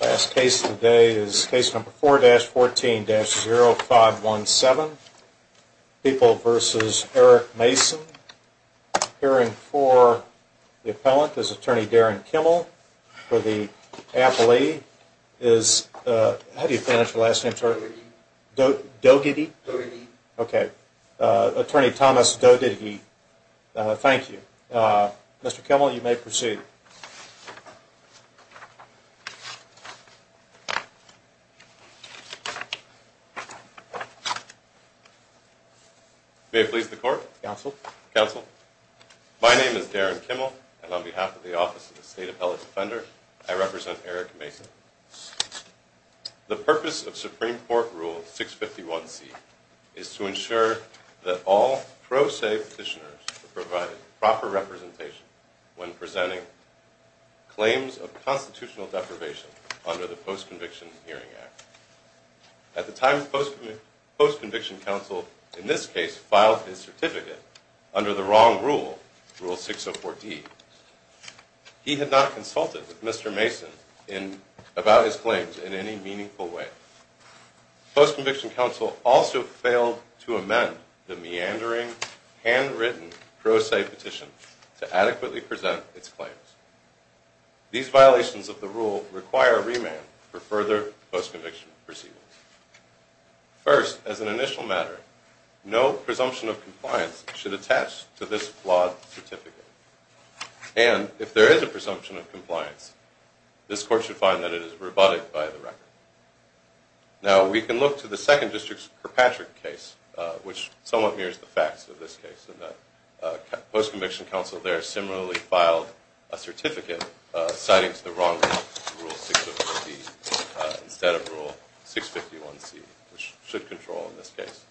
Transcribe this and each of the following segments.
Last case today is case number 4-14-0517. People v. Eric Mason. Appearing for the appellant is attorney Darren Kimmel for the appellee is, how do you pronounce your last name? Dough Diddy. Attorney Thomas Dough Diddy. Thank you. Mr. Kimmel, you may proceed. May it please the court. Counsel. Counsel. My name is Darren Kimmel and on behalf of the Supreme Court Rule 651C is to ensure that all pro se petitioners are provided proper representation when presenting claims of constitutional deprivation under the Post-Conviction Hearing Act. At the time the Post-Conviction Council, in this case, filed his certificate under the wrong rule, Rule 604D, he had not consulted with Mr. Mason about his claims in any meaningful way. The Post-Conviction Council also failed to amend the meandering, handwritten pro se petition to adequately present its claims. These violations of the rule require remand for further post-conviction proceedings. First, as an initial matter, no presumption of compliance should attach to this flawed certificate. And, if there is a presumption of compliance, this court should find that it is rebutted by the record. Now, we can look to the 2nd District's Kirkpatrick case, which somewhat mirrors the facts of this case. The Post-Conviction Council there similarly filed a certificate citing to the wrong rule, Rule 604D, instead of Rule 651C, which should control in this case.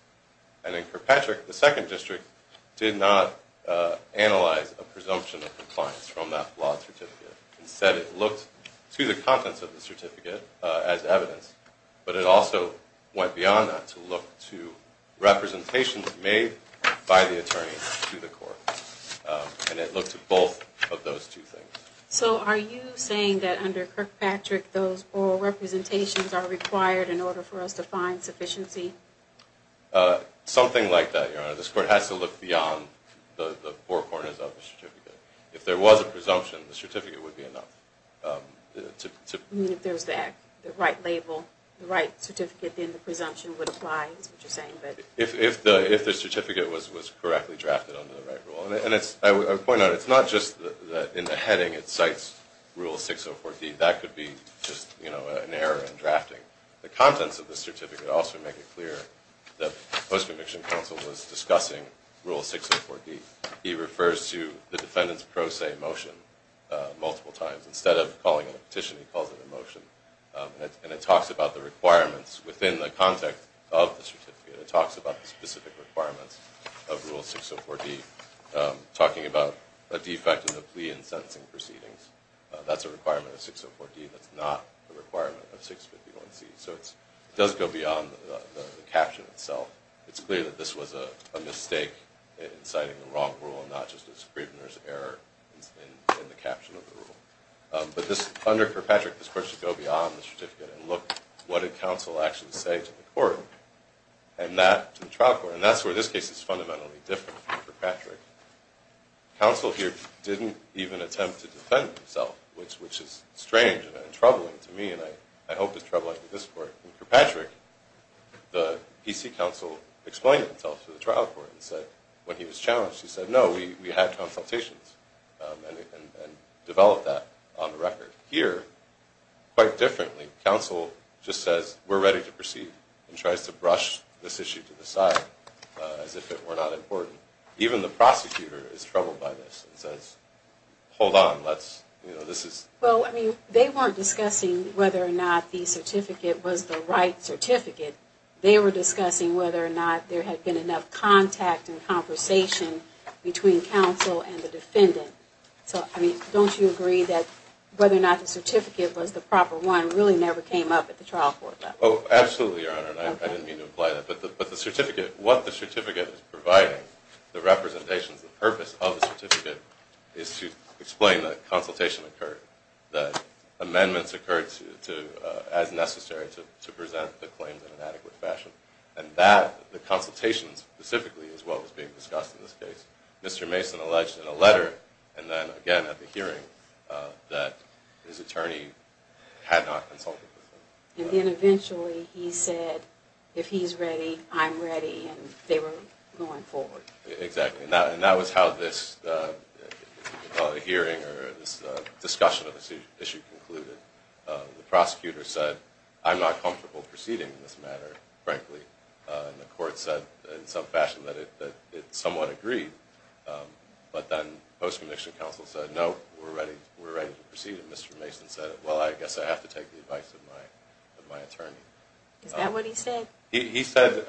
And in Kirkpatrick, the 2nd District did not analyze a presumption of compliance from that flawed certificate. Instead, it looked to the contents of the certificate as evidence. But it also went beyond that to look to representations made by the attorney to the court. And it looked at both of those two things. So are you saying that under Kirkpatrick, those oral representations are required in order for us to find sufficiency? Something like that, Your Honor. This court has to look beyond the four corners of the certificate. If there was a presumption, the certificate would be enough. You mean if there's the right label, the right certificate, then the presumption would apply? Is that what you're saying? If the certificate was correctly drafted under the right rule. And I would point out, it's not just that in the heading it cites Rule 604D. That could be just, you know, an error in drafting. The contents of the certificate also make it clear that the Post-Conviction Counsel was discussing Rule 604D. He refers to the defendant's pro se motion multiple times. Instead of calling it a petition, he calls it a motion. And it talks about the requirements within the context of the certificate. It talks about the specific requirements of Rule 604D, talking about a defect in the plea and sentencing proceedings. That's a requirement of 604D. That's not a requirement of 651C. So it does go beyond the caption itself. It's clear that this was a mistake in citing the wrong rule and not just a Scribner's error in the caption of the rule. But this, under Kirkpatrick, this court should go beyond the certificate and look, what did counsel actually say to the court? And that, to the trial court, and that's where this case is fundamentally different from Kirkpatrick. Counsel here didn't even attempt to defend himself, which is strange and troubling to me. And I hope it's troubling to this court. In Kirkpatrick, the PC counsel explained himself to the trial court and said, when he was challenged, he said, no, we had consultations and developed that on the record. Here, quite differently, counsel just says, we're ready to proceed and tries to brush this issue to the side as if it were not important. Even the prosecutor is troubled by this and says, hold on, let's, you know, this is... Well, I mean, they weren't discussing whether or not the certificate was the right certificate. They were discussing whether or not there had been enough contact and conversation between counsel and the defendant. So, I mean, don't you agree that whether or not the certificate was the proper one really never came up at the trial court level? Oh, absolutely, Your Honor, and I didn't mean to imply that, but the certificate, what the certificate is providing, the representations, the purpose of the certificate is to explain that consultation occurred, that amendments occurred as necessary to present the claims in an adequate fashion. And that, the consultations specifically, is what was being discussed in this case. Mr. Mason alleged in a letter and then again at the hearing that his attorney had not consulted with him. And then eventually he said, if he's ready, I'm ready, and they were going forward. Exactly, and that was how this hearing or this discussion of this issue concluded. The prosecutor said, I'm not comfortable proceeding in this matter, frankly, and the court said in some fashion that it somewhat agreed. But then post-conviction counsel said, no, we're ready to proceed, and Mr. Mason said, well, I guess I have to take the advice of my attorney. Is that what he said? He said,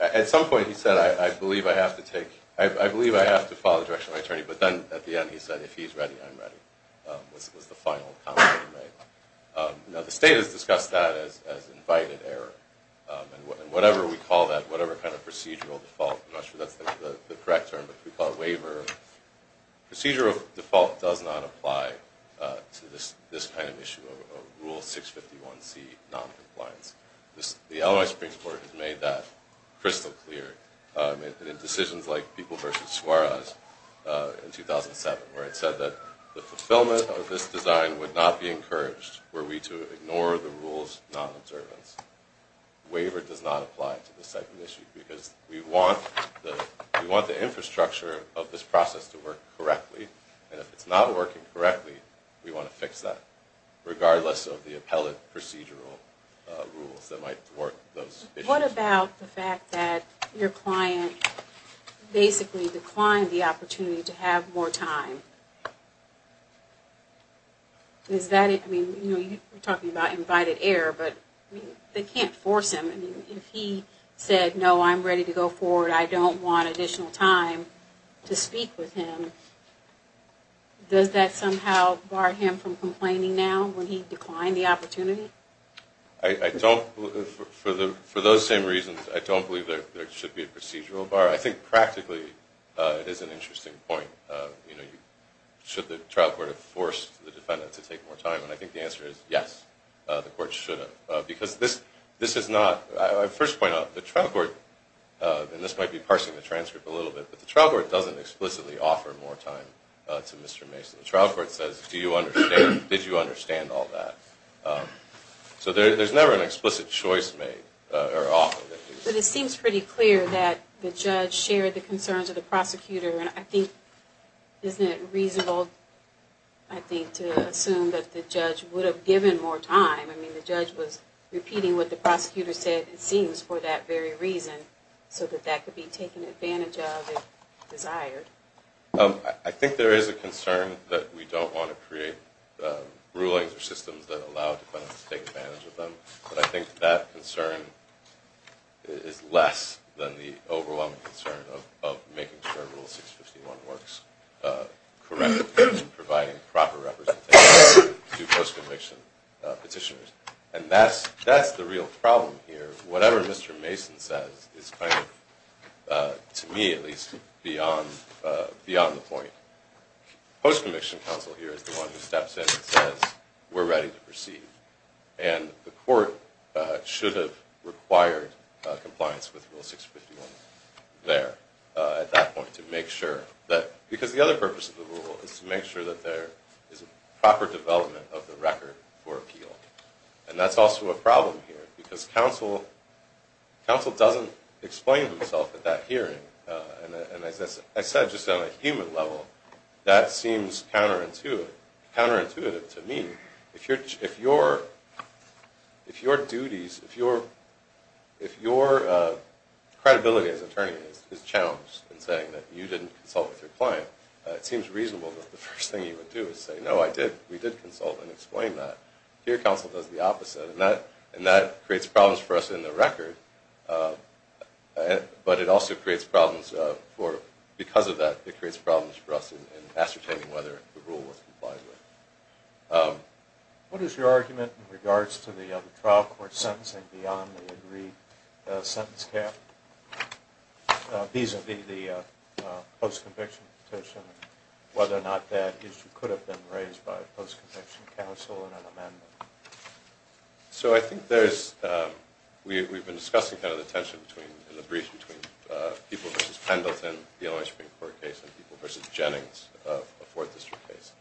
at some point he said, I believe I have to take, I believe I have to follow the direction of my attorney, but then at the end he said, if he's ready, I'm ready, was the final comment he made. Now the state has discussed that as invited error, and whatever we call that, whatever kind of procedural default, I'm not sure that's the correct term, but we call it waiver. Procedural default does not apply to this kind of issue of Rule 651C, noncompliance. The Illinois Supreme Court has made that crystal clear in decisions like People v. Suarez in 2007, where it said that the fulfillment of this design would not be encouraged were we to ignore the rule's non-observance. Waiver does not apply to this type of issue because we want the infrastructure of this process to work correctly, and if it's not working correctly, we want to fix that, regardless of the appellate procedural rules that might thwart those issues. What about the fact that your client basically declined the opportunity to have more time? Is that, I mean, you're talking about invited error, but they can't force him. I mean, if he said, no, I'm ready to go forward, I don't want additional time to speak with him, does that somehow bar him from complaining now when he declined the opportunity? I don't, for those same reasons, I don't believe there should be a procedural bar. I think practically it is an interesting point, you know, the trial court forced the defendant to take more time, and I think the answer is yes, the court should have. Because this is not, I first point out, the trial court, and this might be parsing the transcript a little bit, but the trial court doesn't explicitly offer more time to Mr. Mason. The trial court says, do you understand, did you understand all that? So there's never an explicit choice made, or offer. But it seems pretty clear that the judge shared the concerns of the prosecutor, and I think, isn't it reasonable, I think, to assume that the judge would have given more time? I mean, the judge was repeating what the prosecutor said, it seems, for that very reason, so that that could be taken advantage of if desired. I think there is a concern that we don't want to create rulings or systems that allow defendants to take advantage of them, but I think that concern is less than the overwhelming concern of making sure Rule 651 works correctly, and providing proper representation to post-conviction petitioners. And that's the real problem here. Whatever Mr. Mason says is kind of, to me at least, beyond the point. Post-conviction counsel here is the one who steps in and says, we're ready to proceed. And the court should have required compliance with Rule 651 there, at that point, to make sure that, because the other purpose of the rule is to make sure that there is a proper development of the record for appeal. And that's also a problem here, because counsel doesn't explain himself at that hearing. And as I said, just on a human level, that seems counterintuitive to me. If your duties, if your credibility as attorney is challenged in saying that you didn't consult with your client, it seems reasonable that the first thing you would do is say, no, I did, we did consult and explain that. Here, counsel does the opposite. And that creates problems for us in the record, but it also creates problems for, because of that, it creates problems for us in ascertaining whether the rule was complied with. What is your argument in regards to the trial court sentencing beyond the agreed sentence cap, vis-a-vis the post-conviction petition, and whether or not that issue could have been raised by a post-conviction counsel in an amendment? So I think there's, we've been discussing kind of the tension between, in the brief, between people versus Pendleton, the Illinois Supreme Court case, and people versus Jennings, a fourth district case.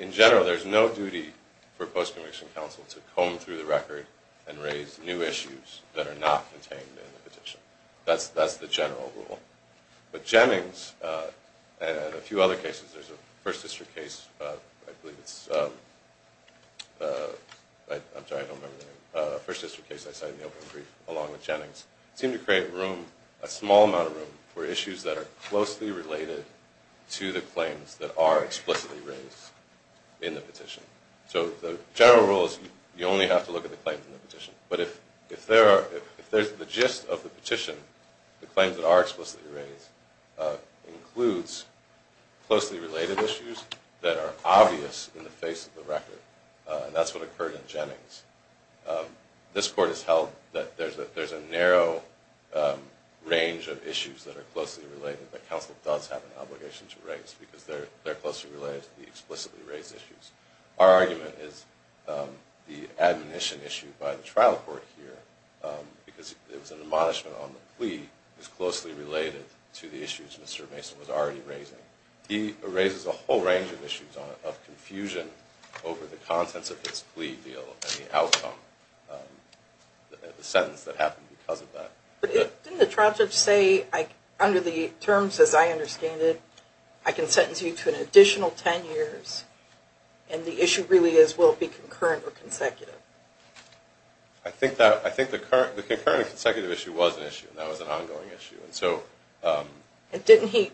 In general, there's no duty for post-conviction counsel to comb through the record and raise new issues that are not contained in the petition. That's the general rule. But Jennings, and a few other cases, there's a first district case, I believe it's, I'm sorry, I don't know if in the brief, along with Jennings, seem to create room, a small amount of room, for issues that are closely related to the claims that are explicitly raised in the petition. So the general rule is you only have to look at the claims in the petition. But if there are, if there's the gist of the petition, the claims that are explicitly raised, includes closely related issues that are obvious in the face of the record. And that's what occurred in Jennings. This court has held that there's a narrow range of issues that are closely related that counsel does have an obligation to raise, because they're closely related to the explicitly raised issues. Our argument is the admonition issue by the trial court here, because it was an admonishment on the plea, is closely related to the issues Mr. Mason was already raising. He raises a whole range of issues of confusion over the contents of his plea deal and the sentence that happened because of that. But didn't the trial judge say, under the terms as I understand it, I can sentence you to an additional 10 years, and the issue really is, will it be concurrent or consecutive? I think that, I think the concurrent and consecutive issue was an issue, and that was an ongoing issue. And didn't he,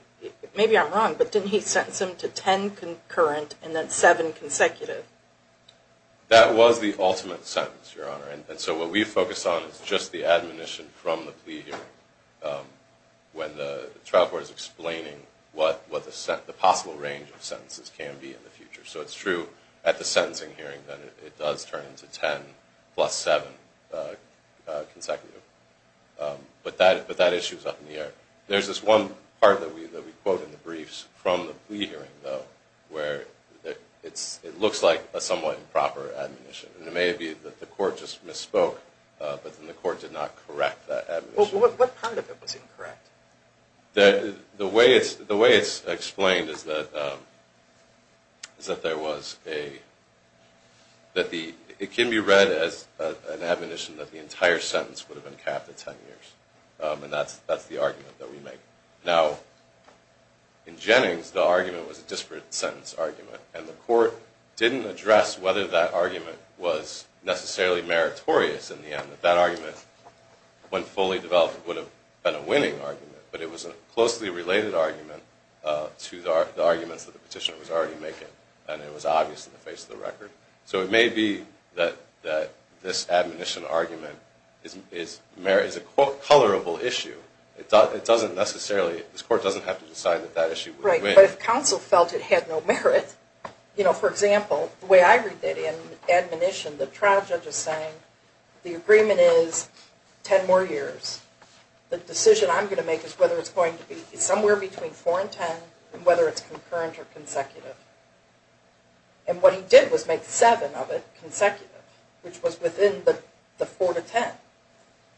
maybe I'm wrong, but didn't he sentence him to 10 concurrent and then 7 consecutive? That was the ultimate sentence, Your Honor. And so what we focus on is just the admonition from the plea hearing, when the trial court is explaining what the possible range of sentences can be in the future. So it's 10 plus 7 consecutive. But that issue is up in the air. There's this one part that we quote in the briefs from the plea hearing, though, where it looks like a somewhat improper admonition. And it may be that the court just misspoke, but then the court did not correct that admonition. Well, what part of it was as an admonition that the entire sentence would have been capped at 10 years? And that's the argument that we make. Now, in Jennings, the argument was a disparate sentence argument, and the court didn't address whether that argument was necessarily meritorious in the end. That argument, when fully developed, would have been a winning argument. But it was a closely related argument to the arguments that the petitioner was already making, and it was obvious in the base of the record. So it may be that this admonition argument is a colorable issue. It doesn't necessarily, this court doesn't have to decide that that issue would win. Right. But if counsel felt it had no merit, you know, for example, the way I read that in admonition, the trial judge is saying, the agreement is 10 more years. The decision I'm going to make is whether it's going to be somewhere between 4 and 10, and whether it's concurrent or consecutive. And what he did was make 7 of it consecutive, which was within the 4 to 10.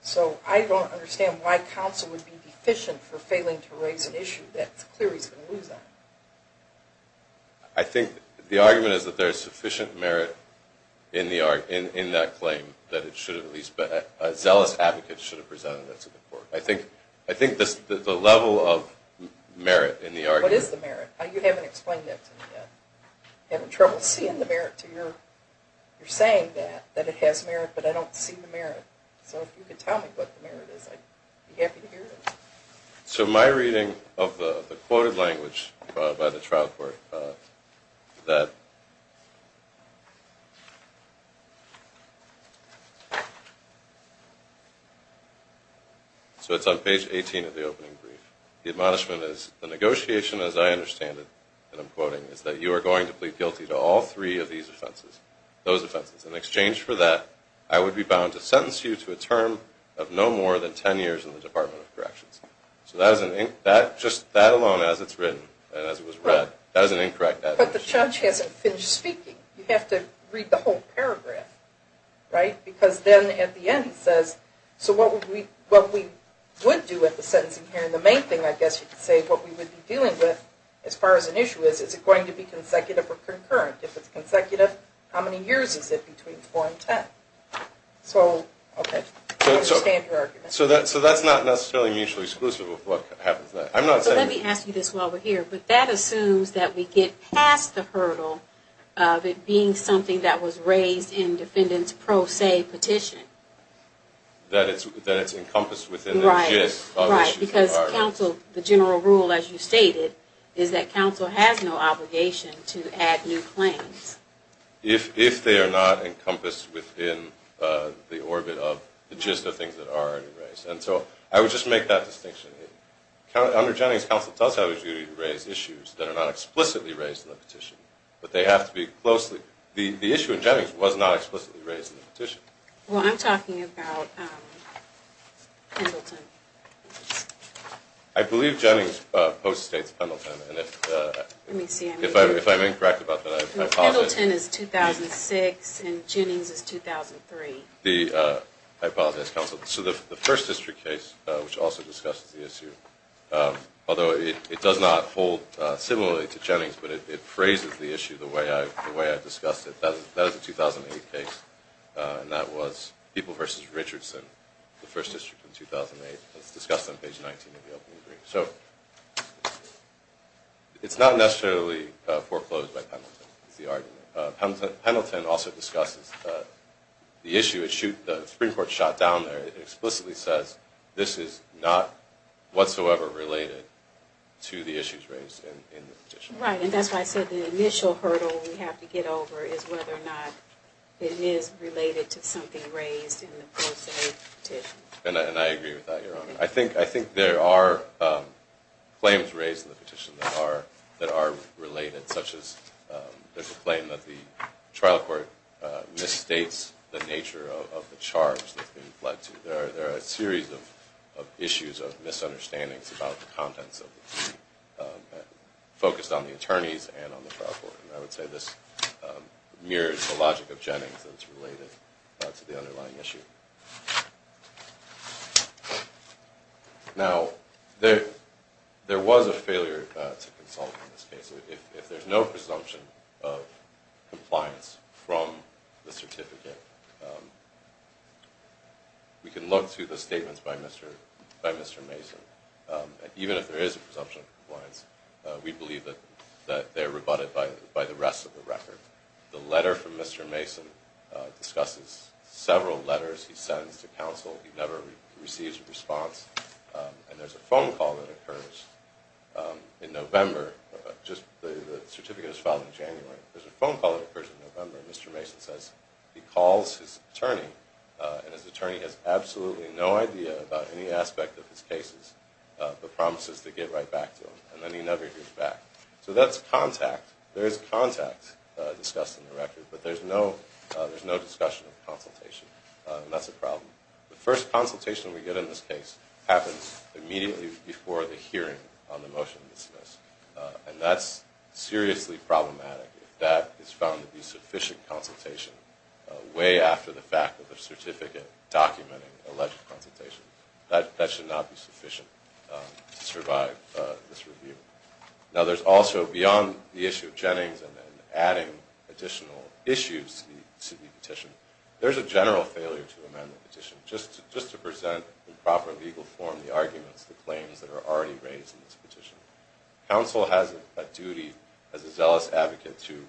So I don't understand why counsel would be deficient for failing to raise an issue that it's clear he's going to lose on. I think the argument is that there's sufficient merit in that claim that a zealous advocate should have presented it to the court. I think the level of merit in the argument... What is the merit? You haven't explained that to me yet. I'm having trouble seeing the merit to your saying that, that it has merit, but I don't see the merit. So if you could tell me what the merit is, I'd be happy to hear it. So my reading of the quoted language by the trial court that... So it's on page 18 of the opening brief. The admonishment is, the negotiation as I understand it, and I'm quoting, is that you are going to plead guilty to all So that just, that alone as it's written, as it was read, that is an incorrect admonishment. But the judge hasn't finished speaking. You have to read the whole paragraph, right? Because then at the end he says, so what we would do at the sentencing hearing, the main thing I guess you could say, what we would be dealing with as far as an issue is, is it going to be consecutive or concurrent? If it's consecutive, how many years is it between 4 and 10? So, okay, I understand your argument. So that's not necessarily mutually exclusive with what happens then. So let me ask you this while we're here, but that assumes that we get past the hurdle of it being something that was raised in defendant's pro se petition. That it's encompassed within the gist of issues that are raised. Right, because counsel, the general rule as you stated, is that counsel has no obligation to add new claims. If they are not encompassed within the orbit of the gist of things that are already raised. And so I would just make that distinction. Under Jennings, counsel does have a duty to raise issues that are not explicitly raised in the petition. But they have to be closely, the issue in Jennings was not explicitly raised in the petition. Well, I'm talking about Pendleton. I believe Jennings post-states Pendleton, and if I'm incorrect about that, I apologize. Pendleton is 2006, and Jennings is 2003. I apologize, counsel. So the first district case, which also discusses the issue, although it does not hold similarly to Jennings, but it phrases the issue the way I discussed it. That was a 2008 case, and that was People v. Richardson, the first district in 2008, as discussed on page 19 of the opening brief. So, it's not necessarily foreclosed by Pendleton, is the argument. Pendleton also discusses the issue, the Supreme Court shot down there, it explicitly says this is not whatsoever related to the issues raised in the petition. Right, and that's why I said the initial hurdle we have to get over is whether or not it is related to something raised in the post-state petition. And I agree with that, Your Honor. I think there are claims raised in the petition that are related, such as there's a claim that the trial court misstates the nature of the charge that's being fled to. There are a series of issues of misunderstandings about the contents of the petition, focused on the attorneys and on the trial court. And I would say this mirrors the logic of Jennings as related to the underlying issue. Now, there was a failure to consult in this case. If there's no presumption of compliance from the certificate, we can look to the statements by Mr. Mason. Even if there is a presumption of compliance, we believe that they're rebutted by the rest of the record. The letter from Mr. Mason discusses several letters he sends to counsel. He never receives a response. And there's a phone call that occurs in November, just the certificate is filed in January. There's a phone call that occurs in November, and Mr. Mason says he calls his attorney, and his attorney has absolutely no idea about any aspect of his cases, but promises to get right back to him. And then he never hears back. So that's contact. There is contact discussed in the record, but there's no discussion of consultation. And that's a problem. The first consultation we get in this case happens immediately before the hearing on the motion to dismiss. And that's seriously problematic if that is found to be sufficient consultation way after the fact of the certificate documenting alleged consultation. That should not be sufficient to survive this review. Now, there's also, beyond the issue of Jennings and then adding additional issues to the petition, there's a general failure to amend the petition. Just to present in proper legal form the arguments, the claims that are already raised in this petition. Counsel has a duty, as a zealous advocate, to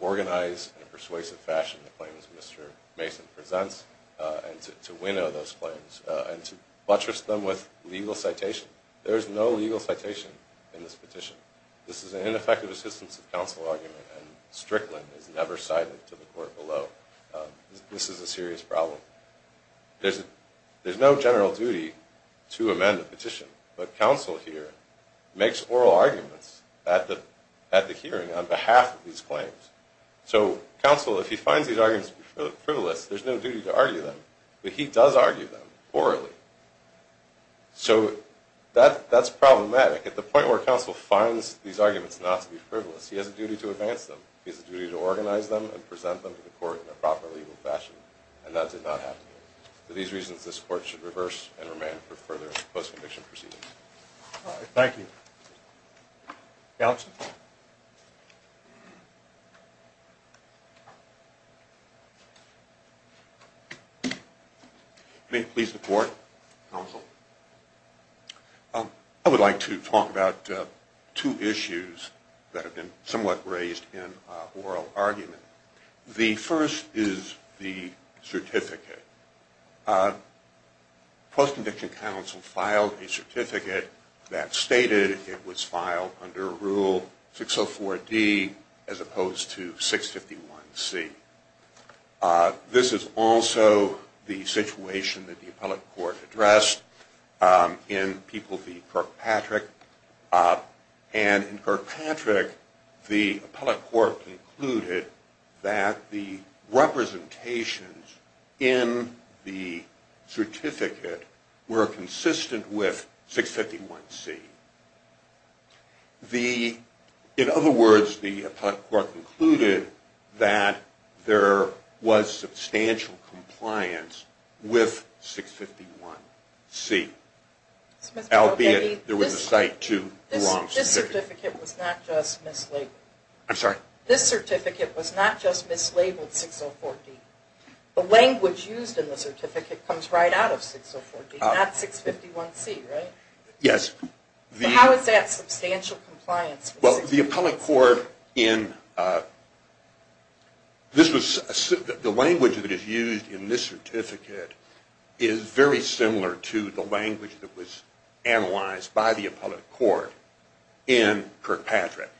organize in a persuasive fashion the claims Mr. Mason presents, and to winnow those claims, and to buttress them with legal citation. There is no legal citation in this petition. This is an ineffective assistance of counsel argument, and Strickland is never cited to the court below. This is a serious problem. There's no general duty to amend the petition, but counsel here makes oral arguments at the hearing on behalf of these claims. So, counsel, if he finds these arguments to be frivolous, there's no duty to argue them. But he does argue them, orally. So, that's problematic. At the point where counsel finds these arguments not to be frivolous, he has a duty to advance them. He has a duty to organize them and present them to the court in a proper legal fashion, and that did not happen here. For these reasons, this court should reverse and remand for further post-conviction proceedings. Thank you. Counsel? May it please the court, counsel? I would like to talk about two issues that have been somewhat raised in oral argument. The first is the certificate. Post-conviction counsel filed a certificate that stated it was filed under Rule 604D as opposed to 651C. This is also the situation that the appellate court addressed in People v. Kirkpatrick. And in Kirkpatrick, the appellate court concluded that the representations in the certificate were consistent with 651C. In other words, the appellate court concluded that there was substantial compliance with 651C, albeit there was a cite to the wrong certificate. This certificate was not just mislabeled 604D. The language used in the certificate comes right out of 604D, not 651C, right? Yes. How is that substantial compliance? The language that is used in this certificate is very similar to the language that was analyzed by the appellate court in Kirkpatrick.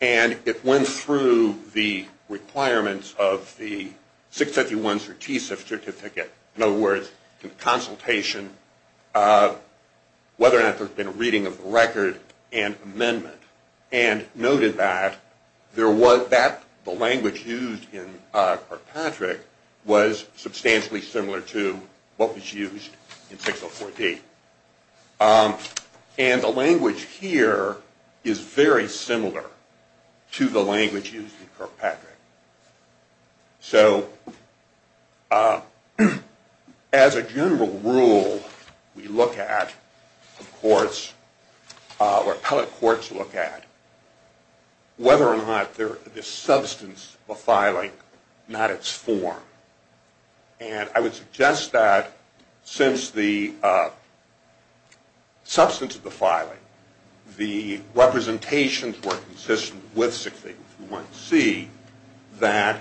And it went through the requirements of the 651C certificate. In other words, the consultation of whether or not there had been a reading of the record and amendment. And noted that the language used in Kirkpatrick was substantially similar to what was used in 604D. And the language here is very similar to the language used in Kirkpatrick. So as a general rule, we look at, of course, or appellate courts look at, whether or not there is substance of a filing, not its form. And I would suggest that since the substance of the filing, the representations were consistent with 651C, that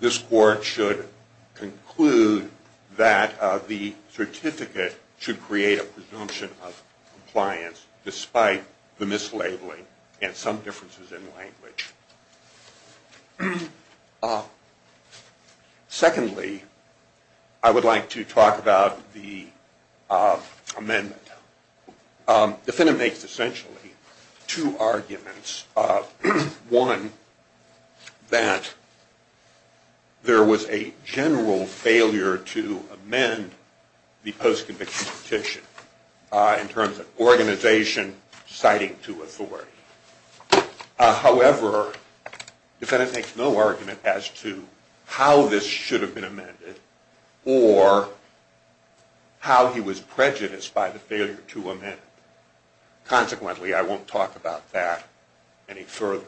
this court should conclude that the certificate should create a presumption of compliance despite the mislabeling and some differences in language. Secondly, I would like to talk about the amendment. The Finham makes essentially two arguments. One, that there was a general failure to amend the post-conviction petition in terms of organization, citing to authority. However, the defendant makes no argument as to how this should have been amended or how he was prejudiced by the failure to amend it. Consequently, I won't talk about that any further.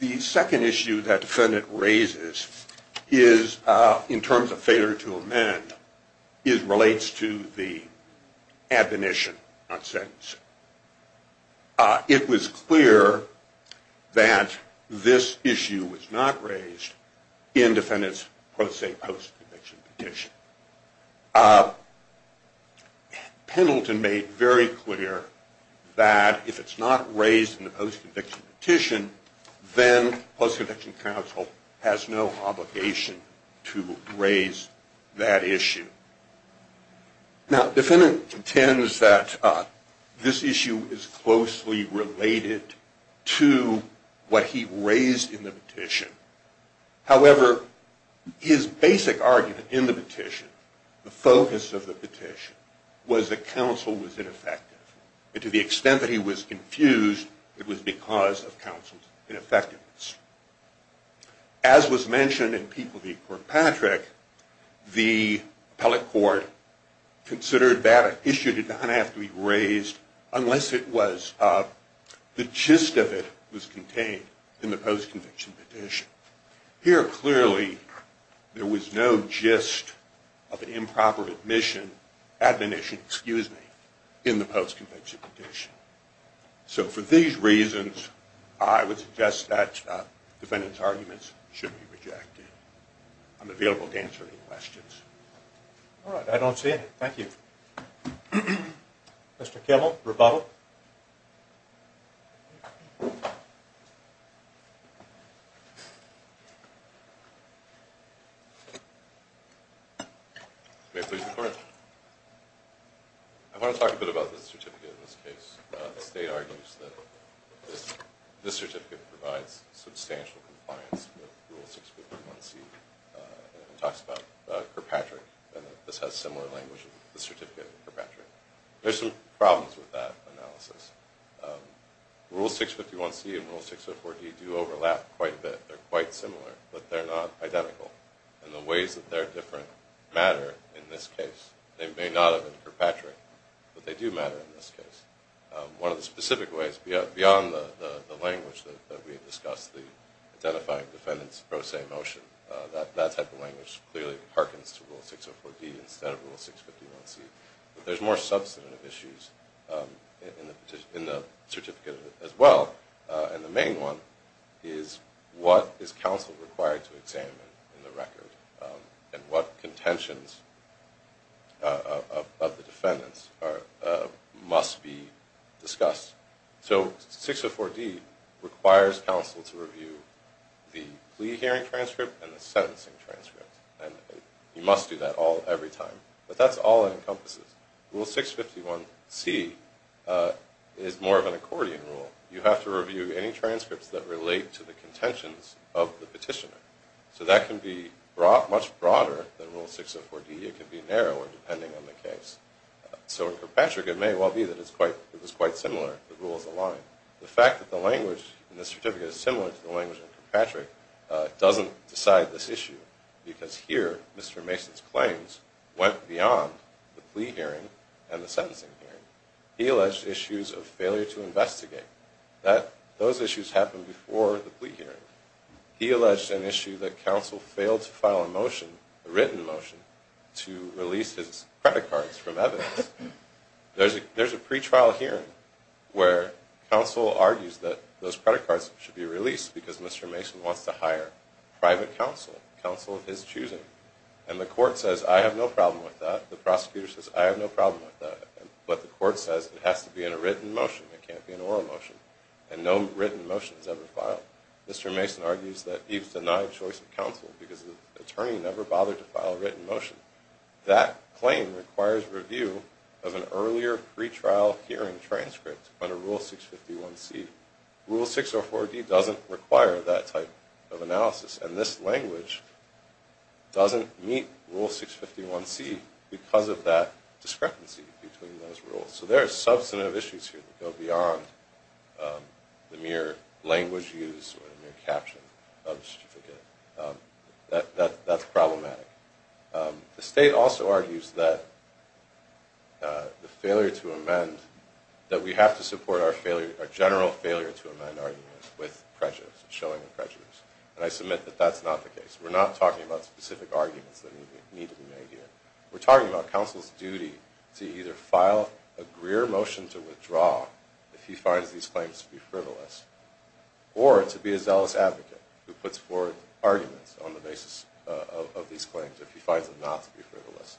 The second issue that the defendant raises in terms of failure to amend relates to the admonition on sentencing. It was clear that this issue was not raised in the defendant's post-conviction petition. Pendleton made very clear that if it's not raised in the post-conviction petition, then post-conviction counsel has no obligation to raise that issue. Now, the defendant contends that this issue is closely related to what he raised in the petition. However, his basic argument in the petition, the focus of the petition, was that counsel was ineffective. And to the extent that he was confused, it was because of counsel's ineffectiveness. As was mentioned in Peeple v. Portpatrick, the appellate court considered that issue did not have to be raised unless the gist of it was contained in the post-conviction petition. Here, clearly, there was no gist of improper admission, admonition, excuse me, in the post-conviction petition. So, for these reasons, I would suggest that defendant's arguments should be rejected. I'm available to answer any questions. All right. I don't see any. Thank you. Mr. Kimmel, rebuttal. May I please record? I want to talk a bit about this certificate in this case. The state argues that this certificate provides substantial compliance with Rule 651C. It talks about Kirkpatrick and that this has similar language as the certificate in Kirkpatrick. There's some problems with that analysis. Rule 651C and Rule 651D do overlap quite a bit. They're quite similar, but they're not identical. And the ways that they're different matter in this case. They may not have been Kirkpatrick, but they do matter in this case. One of the specific ways, beyond the language that we had discussed, the identifying defendant's pro se motion, that type of language clearly harkens to Rule 604D instead of Rule 651C. But there's more substantive issues in the certificate as well. And the main one is what is counsel required to examine in the record, and what contentions of the defendants must be discussed. So 604D requires counsel to review the plea hearing transcript and the sentencing transcript. And you must do that all every time. But that's all it encompasses. Rule 651C is more of an accordion rule. You have to review any transcripts that relate to the contentions of the petitioner. So that can be much broader than Rule 604D. It can be narrower, depending on the case. So in Kirkpatrick, it may well be that it's quite similar. The rules align. The fact that the language in this certificate is similar to the language in Kirkpatrick doesn't decide this issue. Because here, Mr. Mason's claims went beyond the plea hearing and the sentencing hearing. He alleged issues of failure to investigate. Those issues happened before the plea hearing. He alleged an issue that counsel failed to file a motion, a written motion, to release his credit cards from evidence. There's a pretrial hearing where counsel argues that those credit cards should be released because Mr. Mason wants to hire private counsel, counsel of his choosing. And the court says, I have no problem with that. The prosecutor says, I have no problem with that. But the court says it has to be in a written motion. It can't be an oral motion. And no written motion is ever filed. Mr. Mason argues that he was denied choice of counsel because the attorney never bothered to file a written motion. That claim requires review of an earlier pretrial hearing transcript under Rule 651C. And this language doesn't meet Rule 651C because of that discrepancy between those rules. So there are substantive issues here that go beyond the mere language used or the mere caption of the certificate. That's problematic. The state also argues that the failure to amend, that we have to support our general failure to amend arguments with prejudice, showing a prejudice. And I submit that that's not the case. We're not talking about specific arguments that need to be made here. We're talking about counsel's duty to either file a grier motion to withdraw if he finds these claims to be frivolous, or to be a zealous advocate who puts forward arguments on the basis of these claims if he finds them not to be frivolous.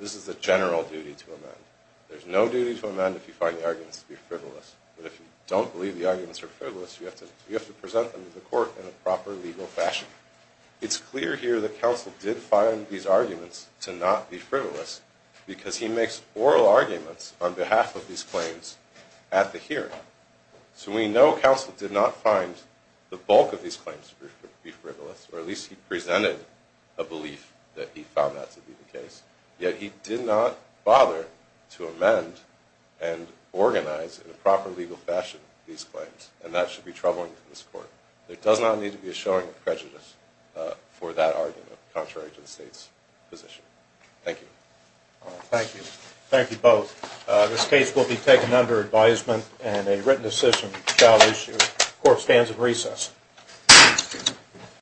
This is a general duty to amend. There's no duty to amend if you find the arguments to be frivolous. But if you don't believe the arguments are frivolous, you have to present them to the court in a proper legal fashion. It's clear here that counsel did find these arguments to not be frivolous because he makes oral arguments on behalf of these claims at the hearing. So we know counsel did not find the bulk of these claims to be frivolous, or at least he presented a belief that he found that to be the case. Yet he did not bother to amend and organize in a proper legal fashion these claims, and that should be troubling to this court. There does not need to be a showing of prejudice for that argument, contrary to the State's position. Thank you. Thank you. Thank you both. This case will be taken under advisement, and a written decision shall issue. Court stands in recess.